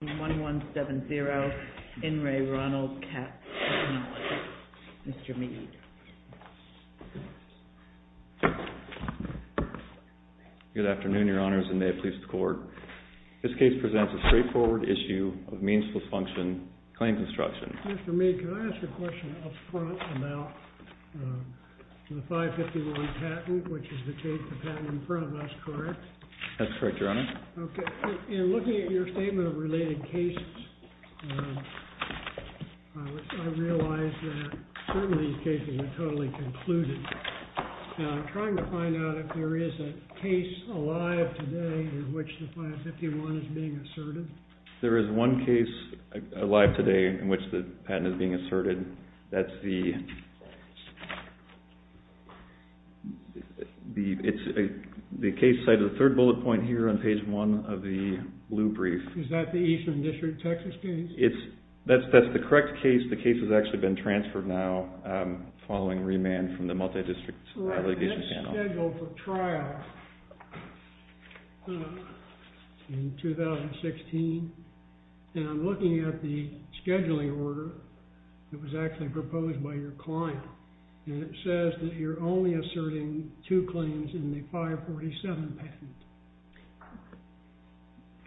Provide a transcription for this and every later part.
1170 In Re Ronald Katz Technology. Mr. Mead. Good afternoon, your honors, and may it please the court. This case presents a straightforward issue of meansful function claim construction. Mr. Mead, can I ask a question up front about the 551 patent, which is the case, the patent in front of us, correct? That's correct, your honor. Okay, in looking at your statement of related cases, I realize that some of these cases are totally concluded. I'm trying to find out if there is a case alive today in which the 551 is being asserted. There is one case alive today in which the patent is being asserted. That's the case cited in the third bullet point here on page one of the blue brief. Is that the Eastern District of Texas case? That's the correct case. The case has actually been transferred now following remand from the multi-district litigation panel. It was scheduled for trial in 2016. And I'm looking at the scheduling order that was actually proposed by your client. And it says that you're only asserting two claims in the 547 patent.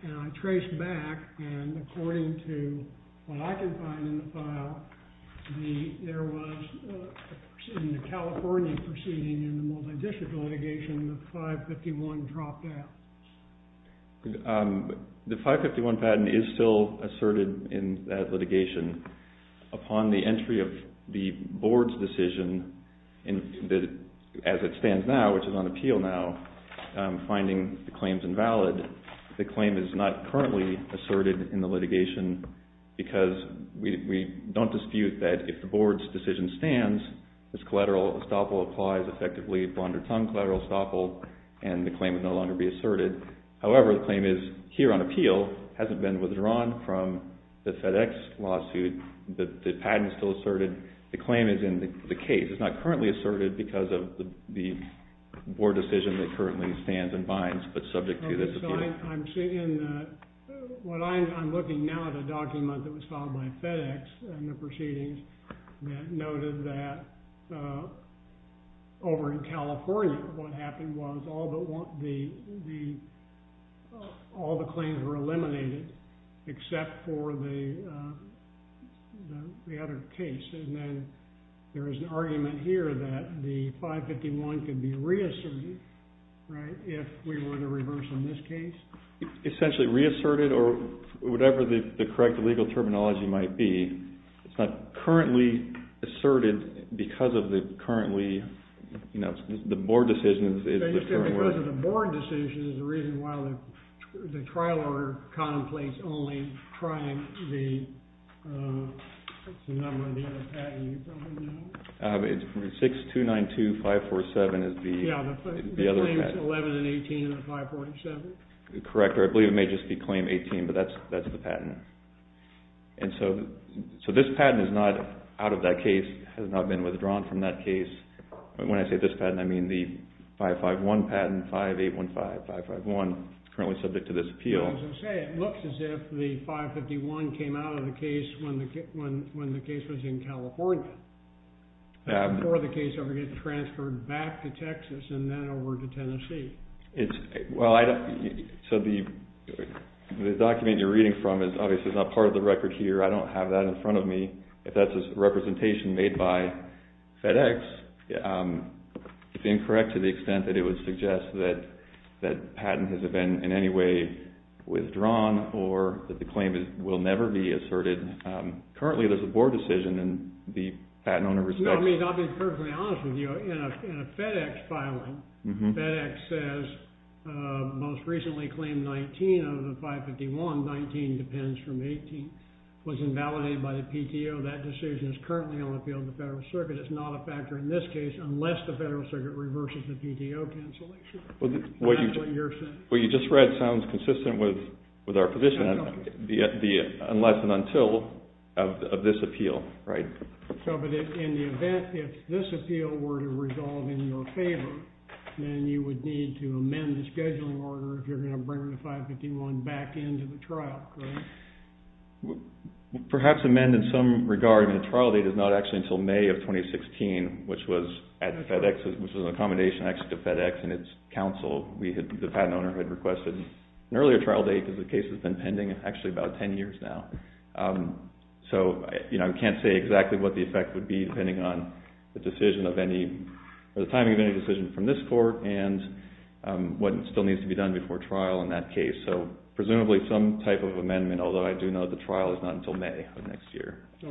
And I traced back, and according to what I can find in the file, there was, in the California proceeding in the multi-district litigation, the 551 dropped out. The 551 patent is still asserted in that litigation. Upon the entry of the board's decision, as it stands now, which is on appeal now, finding the claims invalid, the claim is not currently asserted in the litigation because we don't dispute that if the board's decision stands, this collateral estoppel applies effectively bond or tongue collateral estoppel, and the claim would no longer be asserted. However, the claim is here on appeal, hasn't been withdrawn from the FedEx lawsuit. The patent is still asserted. The claim is in the case. It's not currently asserted because of the board decision that currently stands and binds, but subject to this appeal. I'm looking now at a document that was filed by FedEx in the proceedings that noted that over in California what happened was all the claims were eliminated except for the other case. And then there is an argument here that the 551 could be reasserted, right, if we were to reverse in this case. It's essentially reasserted or whatever the correct legal terminology might be. It's not currently asserted because of the currently, you know, the board decision is the current one. But you said because of the board decision is the reason why the trial order conflicts only trying the number of the other patent. You probably know. It's 6292547 is the other patent. Yeah, the claims 11 and 18 and 547. Correct. I believe it may just be claim 18, but that's the patent. And so this patent is not out of that case, has not been withdrawn from that case. When I say this patent, I mean the 551 patent, 5815551, currently subject to this appeal. As I say, it looks as if the 551 came out of the case when the case was in California, before the case ever gets transferred back to Texas and then over to Tennessee. Well, so the document you're reading from is obviously not part of the record here. I don't have that in front of me. If that's a representation made by FedEx, it's incorrect to the extent that it would suggest that patent has been in any way withdrawn or that the claim will never be asserted. Currently, there's a board decision and the patent owner respects it. I mean, I'll be perfectly honest with you. In a FedEx filing, FedEx says most recently claimed 19 of the 551, 19 depends from 18, was invalidated by the PTO. That decision is currently on the field of the Federal Circuit. It's not a factor in this case unless the Federal Circuit reverses the PTO cancellation. That's what you're saying. What you just read sounds consistent with our position, unless and until of this appeal, right? So, but in the event, if this appeal were to resolve in your favor, then you would need to amend the scheduling order if you're going to bring the 551 back into the trial, correct? Perhaps amend in some regard, and the trial date is not actually until May of 2016, which was at FedEx, which was an accommodation actually to FedEx and its counsel. The patent owner had requested an earlier trial date because the case has been pending actually about 10 years now. So, you know, I can't say exactly what the effect would be depending on the decision of any, or the timing of any decision from this court and what still needs to be done before trial in that case. So presumably some type of amendment, although I do know the trial is not until May of next year. I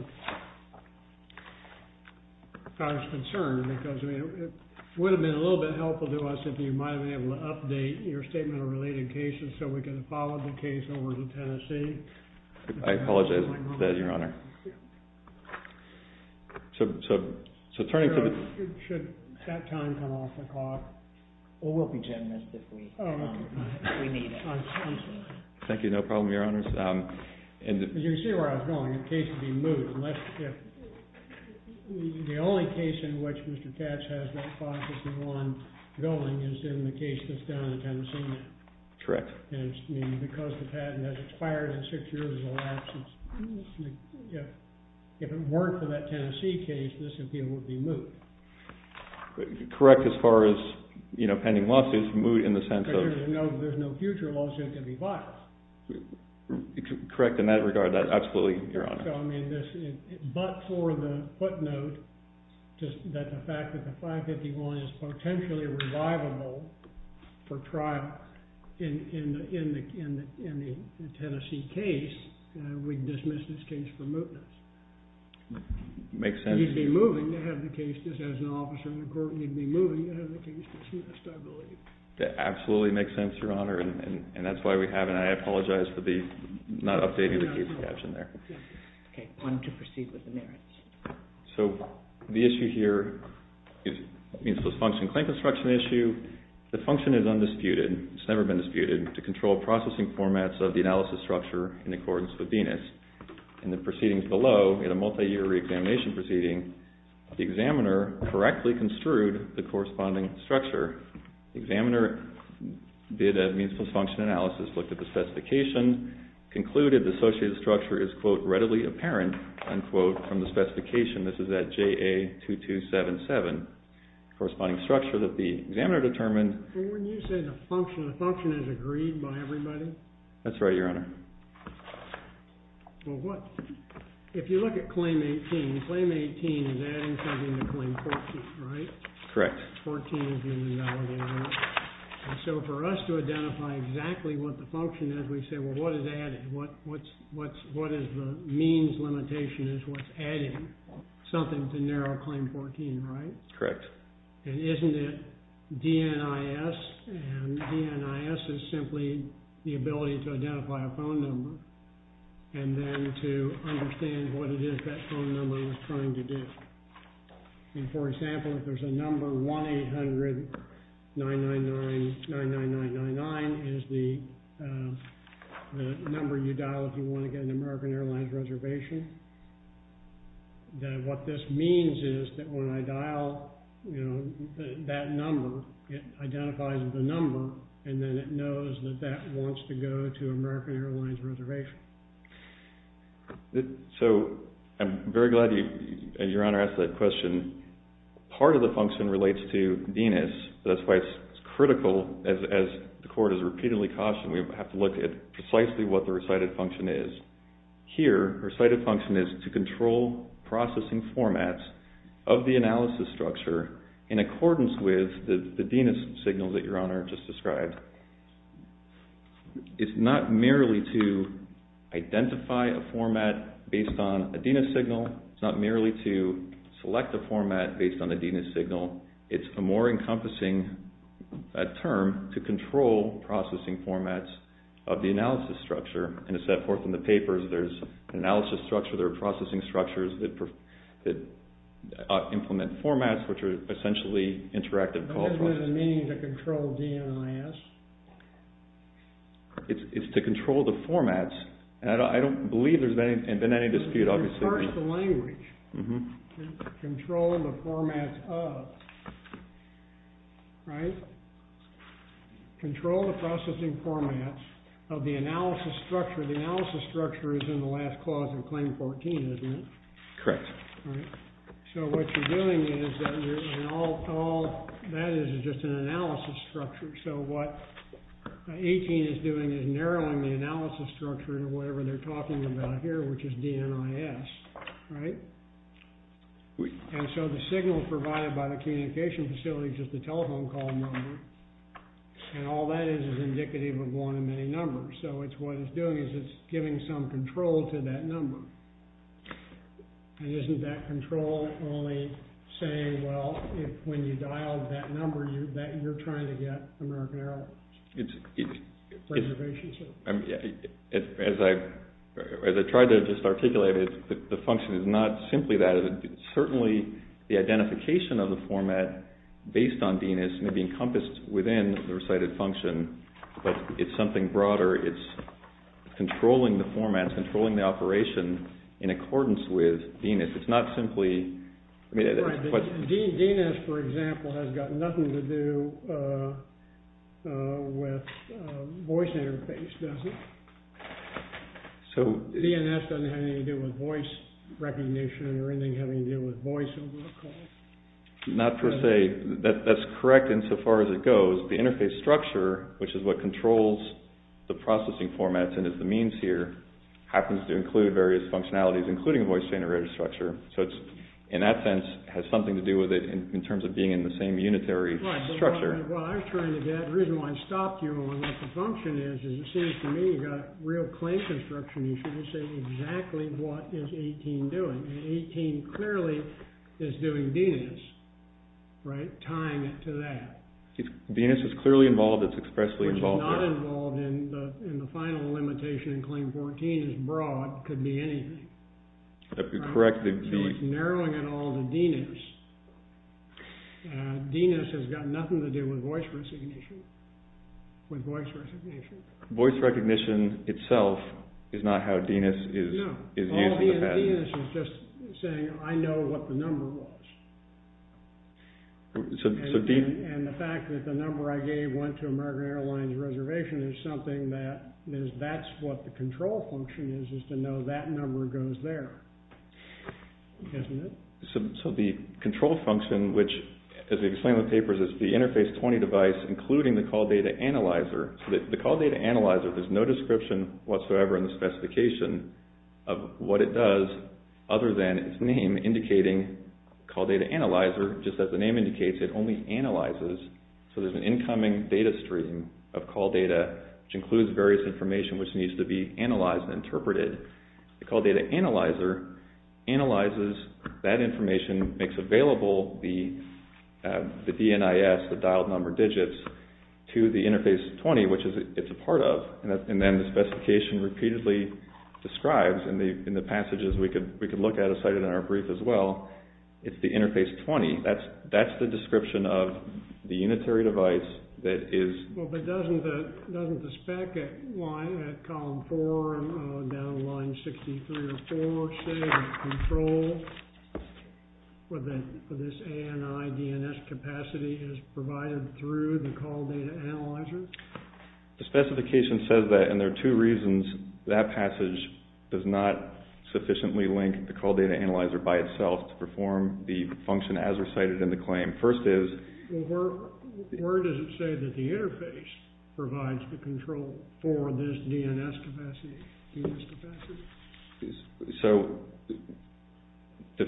was concerned because it would have been a little bit helpful to us if you might have been able to update your statement of related cases so we could have followed the case over to Tennessee. I apologize for that, Your Honor. So turning to the... Should that time come off the clock? Well, we'll pretend that if we need it. Thank you. No problem, Your Honors. As you can see where I was going, the case would be moved unless if... The only case in which Mr. Katz has that 551 going is in the case that's done in Tennessee now. Correct. And because the patent has expired in six years, if it weren't for that Tennessee case, this appeal would be moved. Correct as far as, you know, pending lawsuits moved in the sense of... There's no future lawsuit to be filed. Correct in that regard, absolutely, Your Honor. But for the footnote, that the fact that the 551 is potentially revivable for trial in the Tennessee case, we'd dismiss this case for mootness. Makes sense. He'd be moving to have the case dismissed as an officer in the court. He'd be moving to have the case dismissed, I believe. That absolutely makes sense, Your Honor. And that's why we have... And I apologize for not updating the case caption there. Okay. On to proceed with the merits. So the issue here is a means-plus-function claim construction issue. The function is undisputed. It's never been disputed, to control processing formats of the analysis structure in accordance with Venus. In the proceedings below, in a multi-year re-examination proceeding, the examiner correctly construed the corresponding structure. The examiner did a means-plus-function analysis, looked at the specification, concluded the associated structure is, quote, from the specification. This is at JA-2277. Corresponding structure that the examiner determined... When you say the function, the function is agreed by everybody? That's right, Your Honor. Well, what... If you look at Claim 18, Claim 18 is adding something to Claim 14, right? Correct. 14 is the analogy, Your Honor. And so for us to identify exactly what the function is, we say, well, what is added? What is the means limitation is what's adding? Something to narrow Claim 14, right? Correct. And isn't it DNIS? And DNIS is simply the ability to identify a phone number and then to understand what it is that phone number is trying to do. And, for example, if there's a number 1-800-999-9999 is the number you dial if you want to get an American Airlines reservation, then what this means is that when I dial, you know, that number, it identifies the number, and then it knows that that wants to go to American Airlines reservation. So I'm very glad you, Your Honor, asked that question. Part of the function relates to DNIS. That's why it's critical, as the Court has repeatedly cautioned, we have to look at precisely what the recited function is. Here, recited function is to control processing formats of the analysis structure in accordance with the DNIS signal that Your Honor just described. It's not merely to identify a format based on a DNIS signal. It's not merely to select a format based on a DNIS signal. It's a more encompassing term to control processing formats of the analysis structure. And it's set forth in the papers. There's analysis structure, there are processing structures that implement formats which are essentially interactive call processing. What does it mean to control DNIS? It's to control the formats. And I don't believe there's been any dispute, obviously. First, the language. Control the formats of. Right? Control the processing formats of the analysis structure. The analysis structure is in the last clause in Claim 14, isn't it? Correct. So what you're doing is that all that is is just an analysis structure. So what 18 is doing is narrowing the analysis structure to whatever they're talking about here, which is DNIS. Right? And so the signal provided by the communication facility is just a telephone call number. And all that is is indicative of one of many numbers. So it's what it's doing is it's giving some control to that number. And isn't that control only saying, well, when you dial that number, that you're trying to get American Airlines. Preservation service. As I tried to just articulate it, the function is not simply that. It's certainly the identification of the format based on DNIS may be encompassed within the recited function. But it's something broader. It's controlling the format, controlling the operation in accordance with DNIS. It's not simply. DNIS, for example, has got nothing to do with voice interface, does it? DNIS doesn't have anything to do with voice recognition or anything having to do with voice over the call. Not per se. That's correct insofar as it goes. The interface structure, which is what controls the processing formats and is the means here, happens to include various functionalities, including a voice generator structure. So it's, in that sense, has something to do with it in terms of being in the same unitary structure. Right. Well, I was trying to get... The reason why I stopped you on what the function is is it seems to me you've got real claim construction issues that say exactly what is 18 doing. And 18 clearly is doing DNIS, right, tying it to that. DNIS is clearly involved. It's expressly involved. Which is not involved in the final limitation in Claim 14 is broad. It could be anything. Correct. It's narrowing it all to DNIS. DNIS has got nothing to do with voice recognition. With voice recognition. Voice recognition itself is not how DNIS is used in the patent. No. All DNIS is just saying, I know what the number was. So DNIS... And the fact that the number I gave went to American Airlines Reservation is something that... Because that's what the control function is, is to know that number goes there. Isn't it? So the control function, which, as we explain in the papers, is the Interface 20 device including the Call Data Analyzer. The Call Data Analyzer, there's no description whatsoever in the specification of what it does other than its name indicating Call Data Analyzer. Just as the name indicates, it only analyzes. So there's an incoming data stream of call data which includes various information which needs to be analyzed and interpreted. The Call Data Analyzer analyzes that information, makes available the DNIS, the dialed number digits, to the Interface 20, which it's a part of. And then the specification repeatedly describes, in the passages we could look at and cite it in our brief as well, it's the Interface 20. That's the description of the unitary device that is... Well, but doesn't the spec line at column 4 and down line 63 or 64 say that control for this ANI-DNIS capacity is provided through the Call Data Analyzer? The specification says that, and there are two reasons. That passage does not sufficiently link the Call Data Analyzer by itself to perform the function as recited in the claim. First is... Well, where does it say that the Interface provides the control for this DNIS capacity? So, to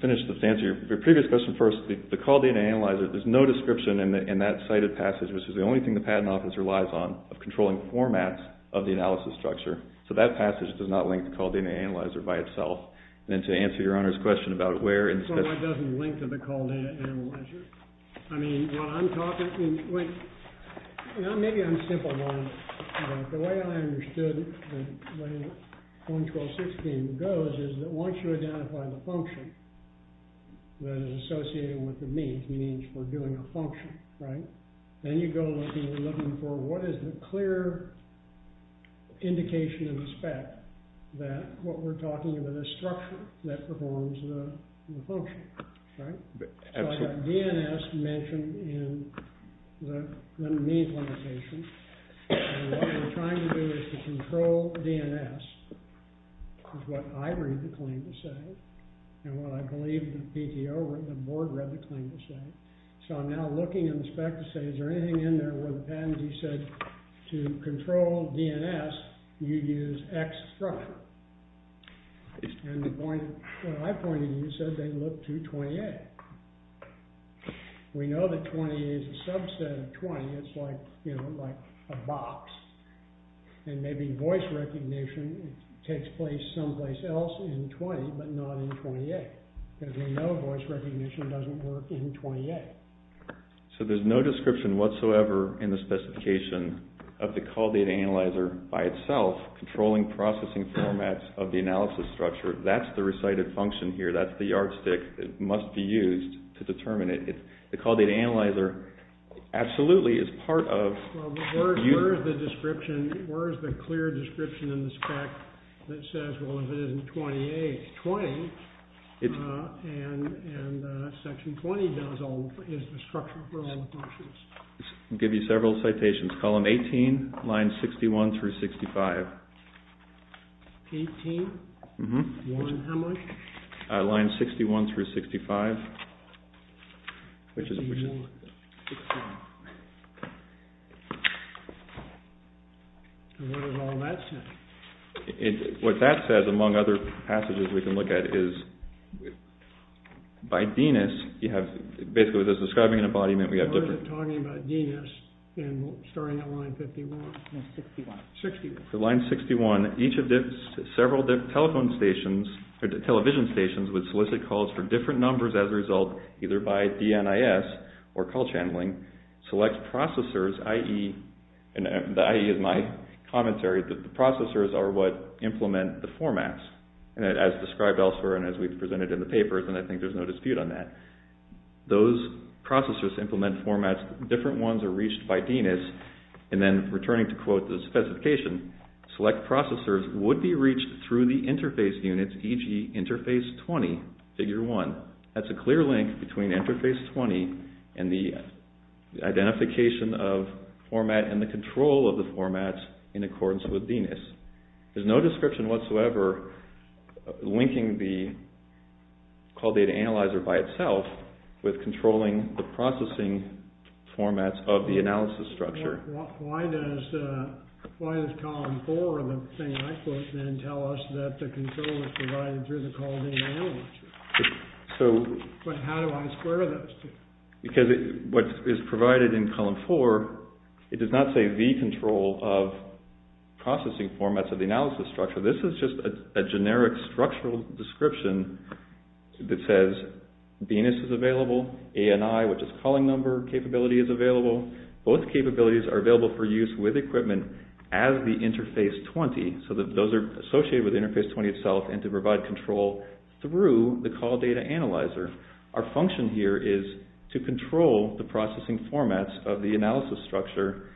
finish the answer to your previous question first, the Call Data Analyzer, there's no description in that cited passage, which is the only thing the Patent Office relies on, of controlling formats of the analysis structure. So that passage does not link the Call Data Analyzer by itself. And to answer Your Honor's question about where... No, it doesn't link to the Call Data Analyzer. I mean, what I'm talking... Maybe I'm simple-minded, but the way I understood the way 112.16 goes is that once you identify the function that is associated with the means, means for doing a function, right? Then you go looking for what is the clear indication of the spec that what we're talking about is a structure that performs the function, right? So I have DNIS mentioned in the means limitation, and what we're trying to do is to control DNIS, is what I read the claim to say, and what I believe the PTO, the board read the claim to say. So I'm now looking in the spec to say, is there anything in there where the patentee said that to control DNIS, you'd use X structure? And the point... What I pointed to you said they'd look to 20A. We know that 20A is a subset of 20. It's like, you know, like a box. And maybe voice recognition takes place someplace else in 20, but not in 20A, because we know voice recognition doesn't work in 20A. So there's no description whatsoever in the specification of the call data analyzer by itself controlling processing formats of the analysis structure. That's the recited function here. That's the yardstick that must be used to determine it. The call data analyzer absolutely is part of... Where is the description? Where is the clear description in the spec that says, well, if it isn't 20A, it's 20. And section 20 is the structure for all the functions. I'll give you several citations. Column 18, lines 61 through 65. 18? Mm-hmm. Line how much? Lines 61 through 65. 61 through 65. And what does all that say? What that says, among other passages we can look at, is by DNIS, you have... Basically, it's describing an embodiment. We have different... We're talking about DNIS and starting at line 51. No, 61. 61. So line 61, each of the several telephone stations, or television stations, would solicit calls for different numbers as a result, either by DNIS or call channeling, select processors, i.e. My commentary is that the processors are what implement the formats, as described elsewhere and as we've presented in the papers, and I think there's no dispute on that. Those processors implement formats. Different ones are reached by DNIS. And then, returning to quote the specification, select processors would be reached through the interface units, e.g. interface 20, figure 1. That's a clear link between interface 20 and the identification of format and the control of the formats in accordance with DNIS. There's no description whatsoever linking the call data analyzer by itself with controlling the processing formats of the analysis structure. Why does column 4 of the thing I put then tell us that the control is provided through the call data analyzer? But how do I square those two? Because what is provided in column 4, it does not say the control of processing formats of the analysis structure. This is just a generic structural description that says DNIS is available, ANI, which is calling number capability, is available. Both capabilities are available for use with equipment as the interface 20, so that those are associated with interface 20 itself and to provide control through the call data analyzer. Our function here is to control the processing formats of the analysis structure.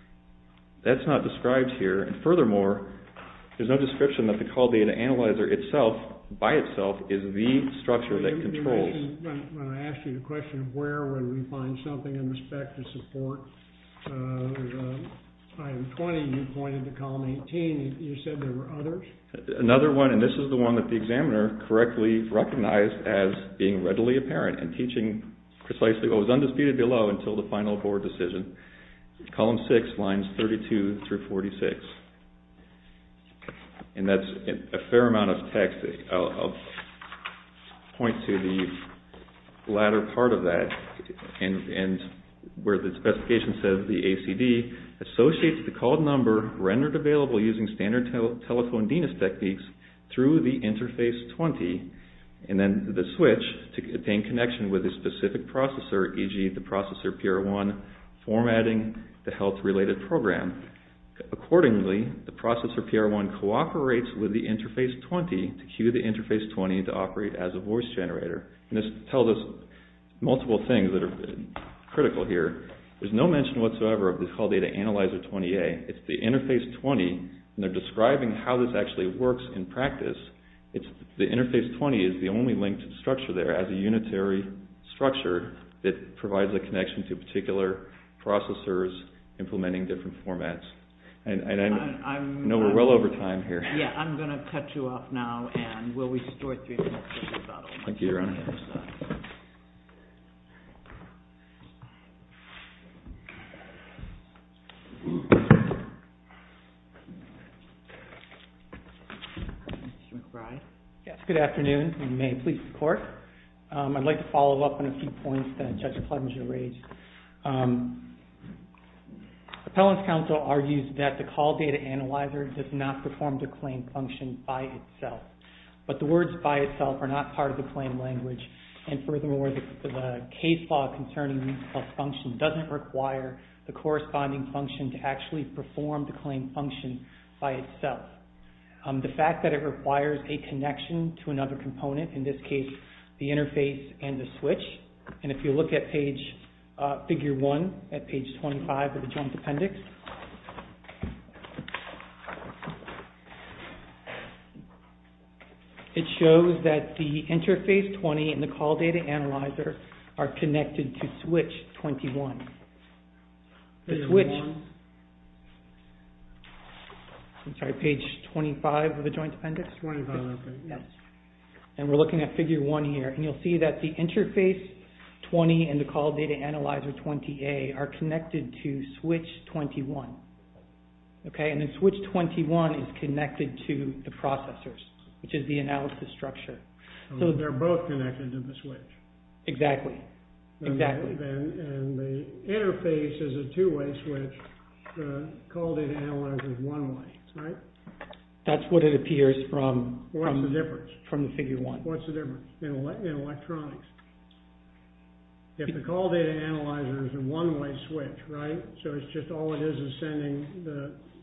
That's not described here, and furthermore, there's no description that the call data analyzer itself, by itself, is the structure that controls. When I asked you the question of where would we find something in respect to support, there's item 20 you pointed to, column 18, you said there were others? Another one, and this is the one that the examiner correctly recognized as being readily apparent and teaching precisely what was undisputed below until the final board decision, column 6, lines 32 through 46. And that's a fair amount of text. I'll point to the latter part of that and where the specification says the ACD associates the called number rendered available using standard telephone DNAS techniques through the interface 20, and then the switch to obtain connection with a specific processor, e.g., the processor PR1, formatting the health-related program. Accordingly, the processor PR1 cooperates with the interface 20 to cue the interface 20 to operate as a voice generator. And this tells us multiple things that are critical here. There's no mention whatsoever of the call data analyzer 20A. It's the interface 20, and they're describing how this actually works in practice. The interface 20 is the only linked structure there as a unitary structure that provides a connection to particular processors implementing different formats. And I know we're well over time here. Yeah, I'm going to cut you off now, and we'll restore three minutes. Thank you, Your Honor. Mr. McBride? Yes, good afternoon, and may it please the Court. I'd like to follow up on a few points that Judge Clevenger raised. Appellant's counsel argues that the call data analyzer does not perform the claim function by itself, but the words by itself are not part of the claim language, and furthermore, the case law concerning the function doesn't require the corresponding function to actually perform the claim function by itself. The fact that it requires a connection to another component, in this case, the interface and the switch, and if you look at figure one at page 25 of the Joint Appendix, it shows that the interface 20 and the call data analyzer are connected to switch 21. The switch... I'm sorry, page 25 of the Joint Appendix? 25, okay. Yes. And we're looking at figure one here, and you'll see that the interface 20 and the call data analyzer 20A are connected to switch 21, okay? And then switch 21 is connected to the processors, which is the analysis structure. So they're both connected to the switch. Exactly, exactly. And the interface is a two-way switch, the call data analyzer is one-way, right? That's what it appears from the figure one. What's the difference in electronics? If the call data analyzer is a one-way switch, right, so it's just all it is is sending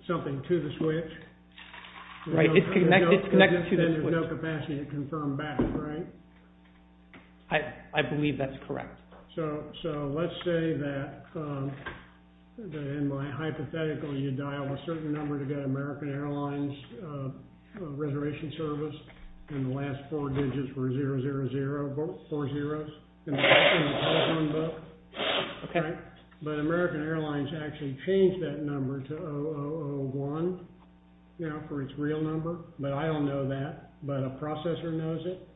something to the switch? Right, it's connected to the switch. Then there's no capacity to confirm back, right? I believe that's correct. So let's say that, in my hypothetical, you dial a certain number to get American Airlines reservation service, and the last four digits were 000, four zeros, in the telephone book. Okay. But American Airlines actually changed that number to 0001, you know, for its real number, but I don't know that, but a processor knows it.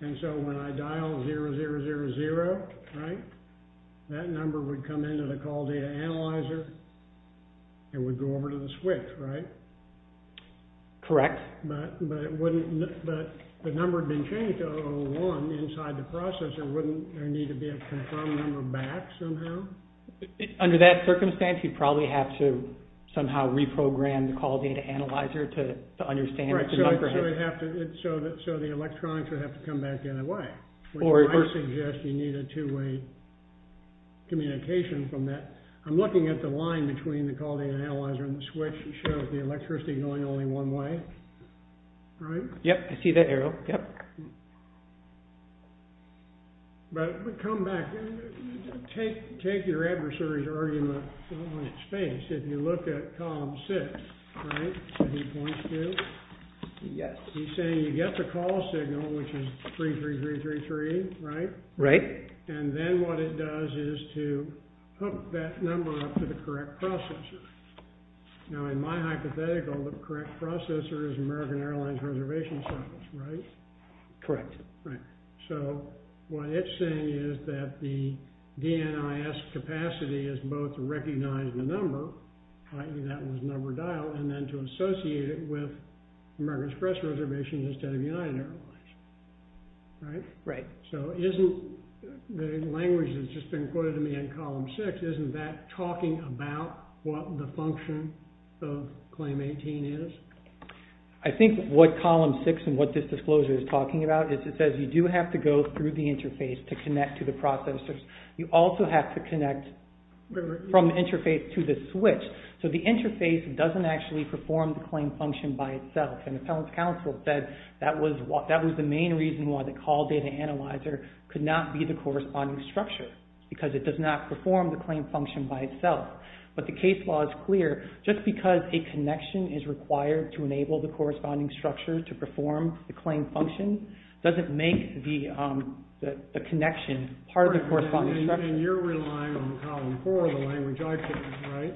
And so when I dial 0000, right, that number would come into the call data analyzer and would go over to the switch, right? Correct. But the number had been changed to 001 inside the processor, wouldn't there need to be a confirmed number back somehow? Under that circumstance, you'd probably have to somehow reprogram the call data analyzer to understand the number. So the electronics would have to come back anyway. I suggest you need a two-way communication from that. I'm looking at the line between the call data analyzer and the switch that shows the electricity going only one way, right? Yep, I see that arrow, yep. But come back, take your adversary's argument on its face. If you look at column six, right, where he points to, he's saying you get the call signal, which is 33333, right? Right. And then what it does is to hook that number up to the correct processor. Now, in my hypothetical, the correct processor is American Airlines Reservation Service, right? Correct. Right. So what it's saying is that the DNIS capacity is both to recognize the number, i.e. that was number dialed, and then to associate it with American Express Reservation instead of United Airlines, right? Right. So isn't the language that's just been quoted to me in column six, isn't that talking about what the function of claim 18 is? I think what column six and what this disclosure is talking about is it says you do have to go through the interface to connect to the processors. You also have to connect from the interface to the switch. So the interface doesn't actually perform the claim function by itself, and the appellant's counsel said that was the main reason why the call data analyzer could not be the corresponding structure because it does not perform the claim function by itself. But the case law is clear. Just because a connection is required to enable the corresponding structure to perform the claim function doesn't make the connection part of the corresponding structure. And you're relying on column four of the language I put in, right?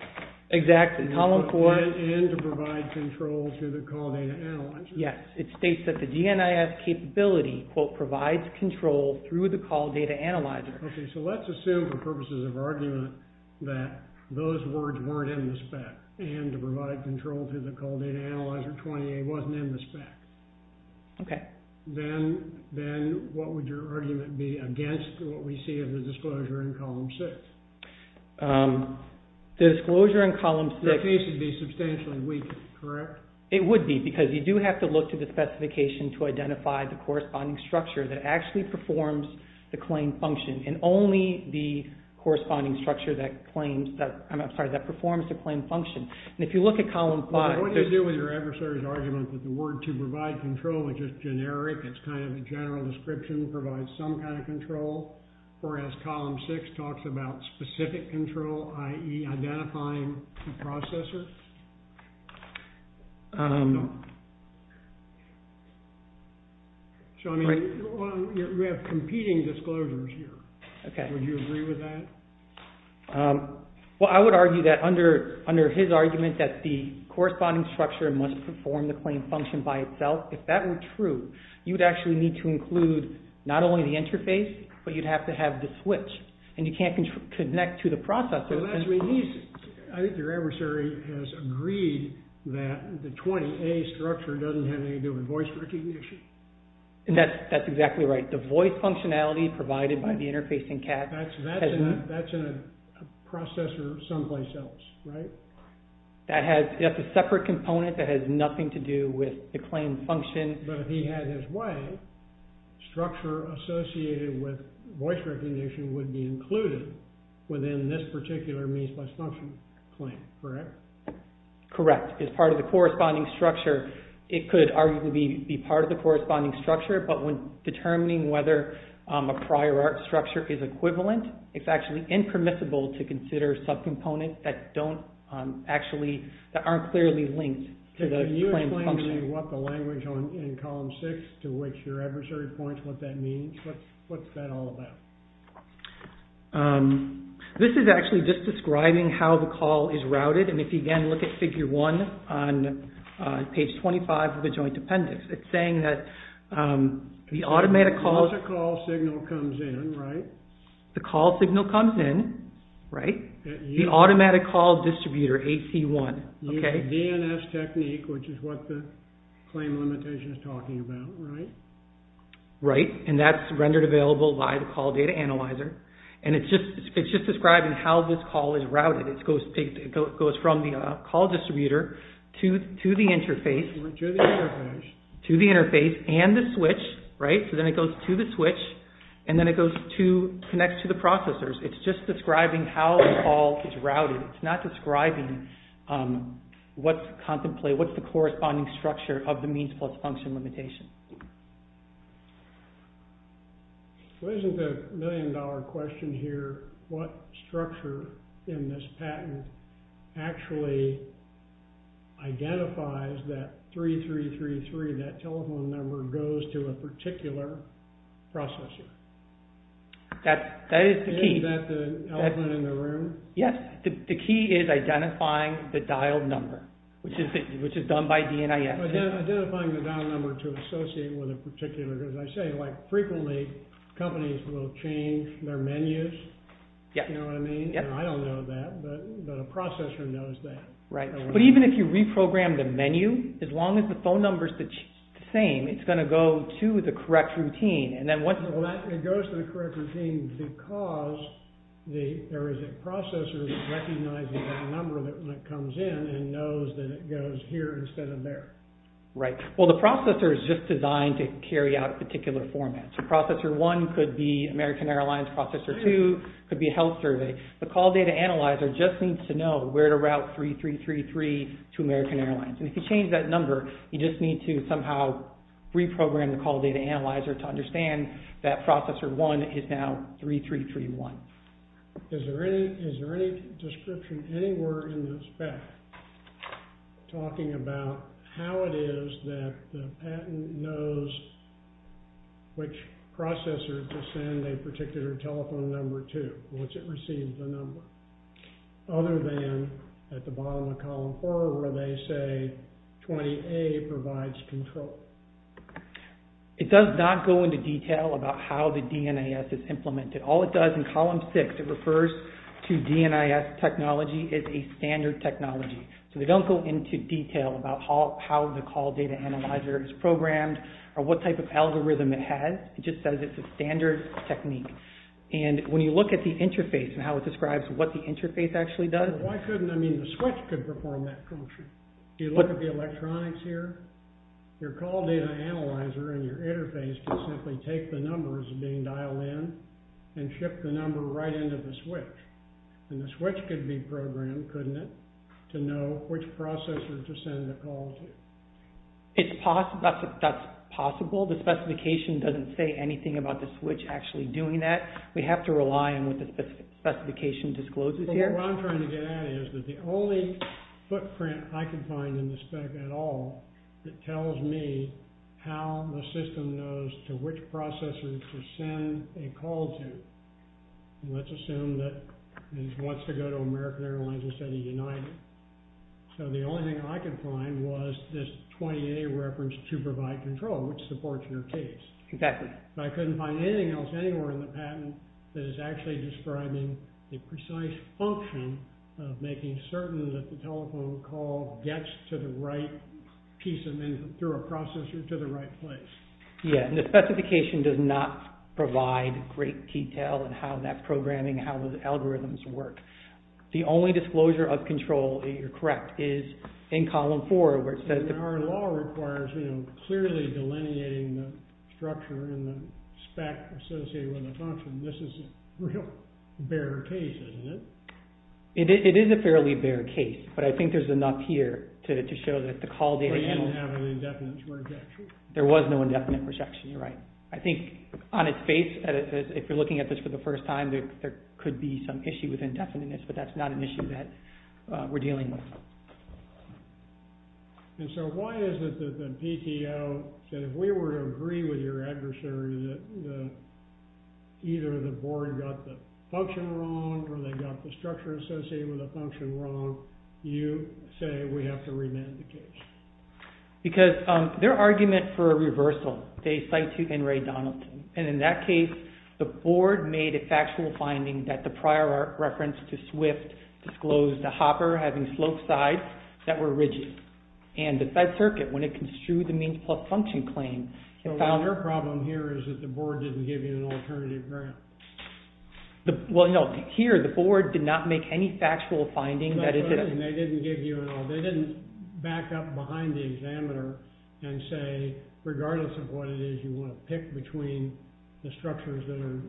Exactly. And to provide control to the call data analyzer. Yes. It states that the DNIS capability provides control through the call data analyzer. Okay. So let's assume for purposes of argument that those words weren't in the spec and to provide control to the call data analyzer 28 wasn't in the spec. Okay. Then what would your argument be against what we see in the disclosure in column six? The disclosure in column six... The case would be substantially weak, correct? It would be because you do have to look to the specification to identify the corresponding structure that actually performs the claim function and only the corresponding structure that performs the claim function. What do you do with your adversary's argument that the word to provide control is just generic, it's kind of a general description, provides some kind of control, whereas column six talks about specific control, i.e. identifying the processor? No. So, I mean, we have competing disclosures here. Okay. Would you agree with that? Well, I would argue that under his argument that the corresponding structure must perform the claim function by itself. If that were true, you'd actually need to include not only the interface, but you'd have to have the switch and you can't connect to the processor. I think your adversary has agreed that the 28 structure doesn't have anything to do with voice recognition. That's exactly right. The voice functionality provided by the interfacing cache... That's in a processor someplace else, right? That's a separate component that has nothing to do with the claim function. But if he had his way, structure associated with voice recognition would be included within this particular means-by-function claim, correct? Correct. It's part of the corresponding structure. It could arguably be part of the corresponding structure, but when determining whether a prior art structure is equivalent, it's actually impermissible to consider subcomponents that aren't clearly linked to the claim function. Can you explain to me what the language in column 6, to which your adversary points what that means, what's that all about? This is actually just describing how the call is routed, and if you again look at figure 1 on page 25 of the joint appendix, it's saying that the automated call... Once a call signal comes in, right? The call signal comes in, right? The automatic call distributor, AC1. The DNS technique, which is what the claim limitation is talking about, right? Right, and that's rendered available by the call data analyzer, and it's just describing how this call is routed. It goes from the call distributor to the interface... To the interface. To the interface and the switch, right? So then it goes to the switch, and then it connects to the processors. It's just describing how the call is routed. It's not describing what's contemplated, what's the corresponding structure of the means plus function limitation. So isn't the million dollar question here, what structure in this patent actually identifies that 3333, that telephone number, goes to a particular processor? That is the key. Is that the elephant in the room? Yes, the key is identifying the dialed number, which is done by DNS. Identifying the dialed number to associate with a particular... Because I say frequently, companies will change their menus. You know what I mean? I don't know that, but a processor knows that. Right, but even if you reprogram the menu, as long as the phone number is the same, it's going to go to the correct routine. It goes to the correct routine because there is a processor that recognizes that number when it comes in and knows that it goes here instead of there. Right. Well, the processor is just designed to carry out a particular format. So processor 1 could be American Airlines, processor 2 could be a health survey. The call data analyzer just needs to know where to route 3333 to American Airlines. And if you change that number, you just need to somehow reprogram the call data analyzer to understand that processor 1 is now 3331. Is there any description anywhere in the spec talking about how it is that the patent knows which processor to send a particular telephone number to, once it receives the number, other than at the bottom of column 4 where they say 20A provides control? It does not go into detail about how the DNIS is implemented. All it does in column 6, it refers to DNIS technology as a standard technology. So they don't go into detail about how the call data analyzer is programmed or what type of algorithm it has. It just says it's a standard technique. And when you look at the interface and how it describes what the interface actually does... Why couldn't... I mean, the switch could perform that function. If you look at the electronics here, your call data analyzer and your interface can simply take the numbers being dialed in and ship the number right into the switch. And the switch could be programmed, couldn't it, to know which processor to send the call to. That's possible. The specification doesn't say anything about the switch actually doing that. We'd have to rely on what the specification discloses here. What I'm trying to get at is that the only footprint I could find in the spec at all that tells me how the system knows to which processor to send a call to. Let's assume that it wants to go to American Airlines instead of United. So the only thing I could find was this 28 reference to provide control, which supports your case. I couldn't find anything else anywhere in the patent that is actually describing the precise function of making certain that the telephone call gets to the right piece of information through a processor to the right place. Yeah, and the specification does not provide great detail in how that programming, how the algorithms work. The only disclosure of control, you're correct, is in column four where it says... Our law requires clearly delineating the structure and the spec associated with the function. This is a real bare case, isn't it? It is a fairly bare case, but I think there's enough here to show that the call data... But you didn't have an indefinite projection. There was no indefinite projection, you're right. I think on its face, if you're looking at this for the first time, there could be some issue with indefiniteness, but that's not an issue that we're dealing with. And so why is it that the PTO said if we were to agree with your adversary that either the board got the function wrong or they got the structure associated with the function wrong, you say we have to remand the case? Because their argument for a reversal, they cite to Henry Donaldson, and in that case, the board made a factual finding that the prior reference to SWIFT disclosed the hopper having sloped sides that were rigid, and the side circuit, when it construed the means plus function claim, it found... So their problem here is that the board didn't give you an alternative ground. Well, no, here the board did not make any factual finding... They didn't back up behind the examiner and say, regardless of what it is you want to pick between the structures that are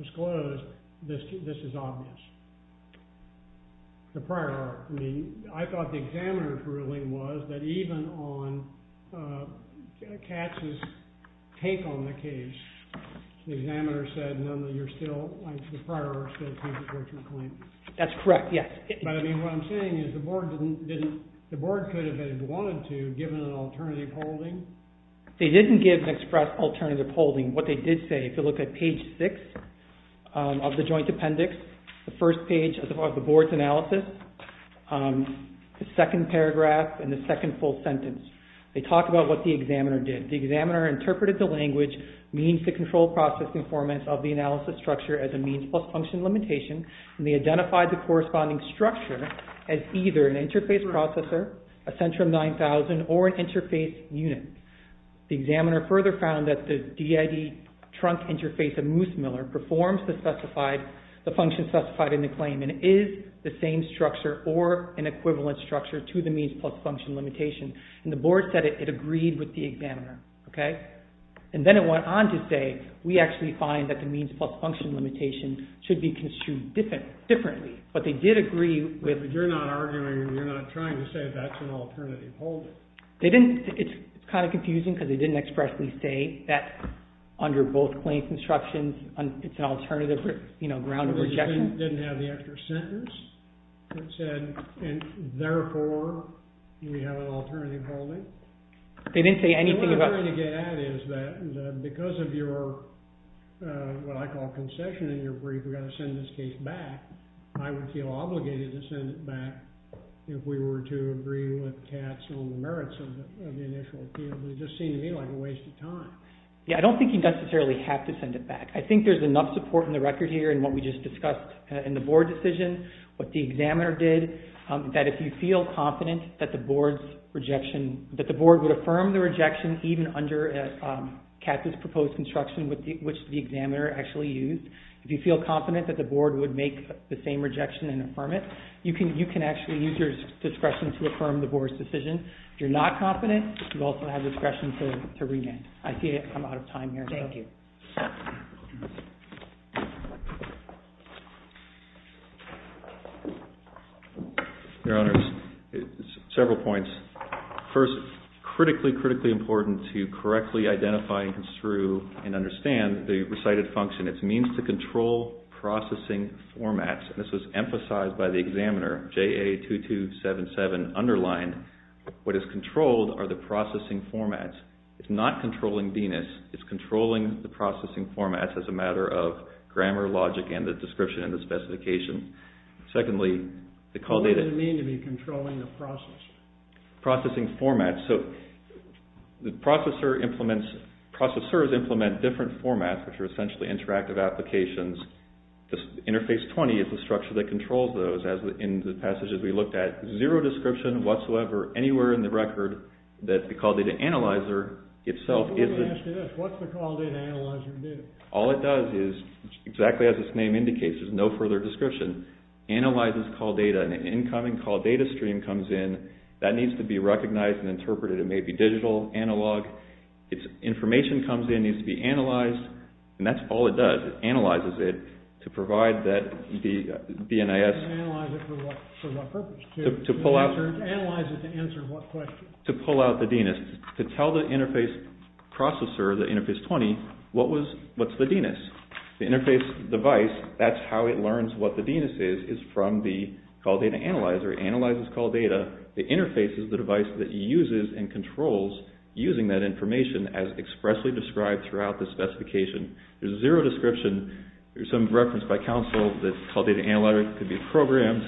disclosed, this is obvious. The prior, I mean, I thought the examiner's ruling was that even on Katz's take on the case, the examiner said, no, no, you're still, like the prior said... That's correct, yes. But, I mean, what I'm saying is the board didn't... The board could have, if it had wanted to, given an alternative holding. They didn't give an express alternative holding. What they did say, if you look at page 6 of the joint appendix, the first page of the board's analysis, the second paragraph and the second full sentence, they talk about what the examiner did. The examiner interpreted the language means-to-control process conformance of the analysis structure as a means-plus-function limitation and they identified the corresponding structure as either an interface processor, a Centrum 9000, or an interface unit. The examiner further found that the DID trunk interface of Moosemiller performs the function specified in the claim and it is the same structure or an equivalent structure to the means-plus-function limitation. And the board said it agreed with the examiner. And then it went on to say, we actually find that the means-plus-function limitation should be construed differently. But they did agree with... But you're not arguing, you're not trying to say that's an alternative holding. It's kind of confusing because they didn't expressly say that under both claims instructions it's an alternative ground of rejection. They didn't have the extra sentence that said, therefore, we have an alternative holding. They didn't say anything about... What I'm trying to get at is that because of your... what I call concession in your brief, we've got to send this case back, I would feel obligated to send it back if we were to agree with Katz on the merits of the initial appeal. It just seemed to me like a waste of time. Yeah, I don't think you necessarily have to send it back. I think there's enough support in the record here in what we just discussed in the board decision, what the examiner did, that if you feel confident that the board's rejection... under Katz's proposed instruction, which the examiner actually used, if you feel confident that the board would make the same rejection and affirm it, you can actually use your discretion to affirm the board's decision. If you're not confident, you also have discretion to remand. I see I'm out of time here. Thank you. Your Honors, several points. First, critically, critically important to correctly identify and construe and understand the recited function. It's a means to control processing formats. This was emphasized by the examiner, JA2277, underlined. What is controlled are the processing formats. It's not controlling DNIS. It's controlling the processing formats as a matter of grammar, logic, and the description and the specification. Secondly, the call data... What does it mean to be controlling the process? Processing formats. So the processor implements... Processors implement different formats, which are essentially interactive applications. Interface 20 is the structure that controls those in the passages we looked at. Zero description whatsoever, anywhere in the record, that the call data analyzer itself is... I was going to ask you this. What's the call data analyzer do? All it does is, exactly as its name indicates, there's no further description, analyzes call data. An incoming call data stream comes in. That needs to be recognized and interpreted. It may be digital, analog. Its information comes in, needs to be analyzed, and that's all it does. It analyzes it to provide that the DNIS... To analyze it for what purpose? To pull out... To analyze it to answer what question? To pull out the DNS. To tell the interface processor, the interface 20, what's the DNS. The interface device, that's how it learns what the DNS is, is from the call data analyzer. It analyzes call data. The interface is the device that uses and controls using that information as expressly described throughout the specification. There's zero description. There's some reference by counsel that call data analyzer could be programmed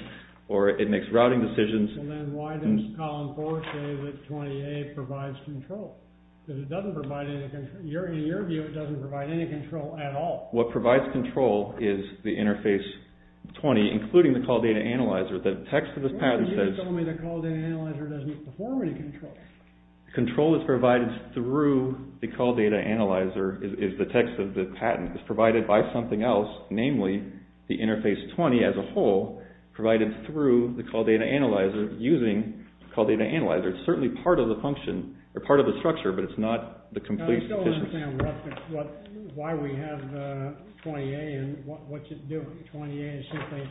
or it makes routing decisions. And then why does column 4 say that 28 provides control? Because it doesn't provide any control. In your view, it doesn't provide any control at all. What provides control is the interface 20, including the call data analyzer. The text of this patent says... You're telling me the call data analyzer doesn't perform any control. Control is provided through the call data analyzer is the text of the patent. It's provided by something else, namely the interface 20 as a whole, provided through the call data analyzer using call data analyzer. It's certainly part of the function or part of the structure, but it's not the complete... I still don't understand why we have 28 and what's it doing. 28 is simply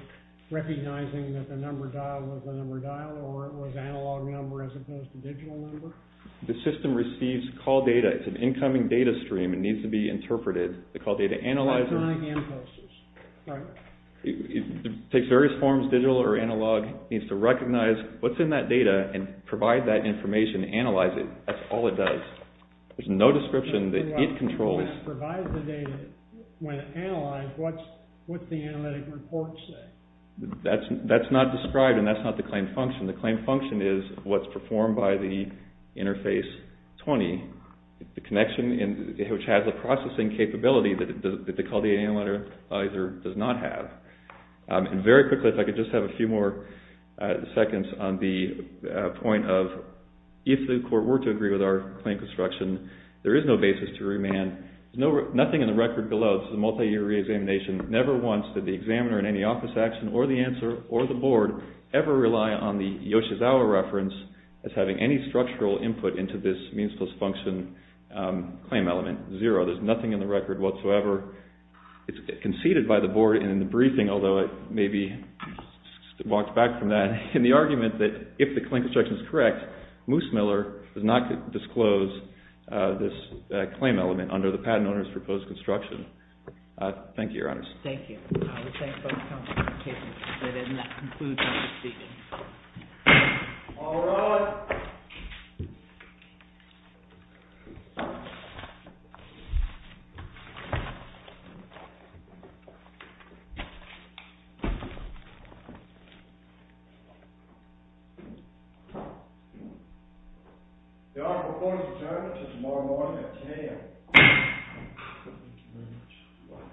recognizing that the number dial was the number dial or it was analog number as opposed to digital number. The system receives call data. It's an incoming data stream. It needs to be interpreted. The call data analyzer... Electronic hand posters. Right. It takes various forms, digital or analog. It needs to recognize what's in that data and provide that information, analyze it. That's all it does. There's no description that it controls. When it provides the data, when it analyzes, what's the analytic report say? That's not described and that's not the claim function. The claim function is what's performed by the interface 20. The connection which has the processing capability that the call data analyzer does not have. Very quickly, if I could just have a few more seconds on the point of if the court were to agree with our claim construction, there is no basis to remand. Nothing in the record below, this is a multi-year re-examination, never once did the examiner in any office action or the answer or the board ever rely on the Yoshizawa reference as having any structural input into this means plus function claim element. Zero. There's nothing in the record whatsoever conceded by the board and in the briefing, although it may be walked back from that, in the argument that if the claim construction is correct, Moose Miller does not disclose this claim element under the patent owner's proposed construction. Thank you, Your Honors. Thank you. I would thank both counselors for their patience in letting that conclude Mr. Stevens. All rise. Your Honor, the court is adjourned until tomorrow morning at 10 a.m. Thank you very much.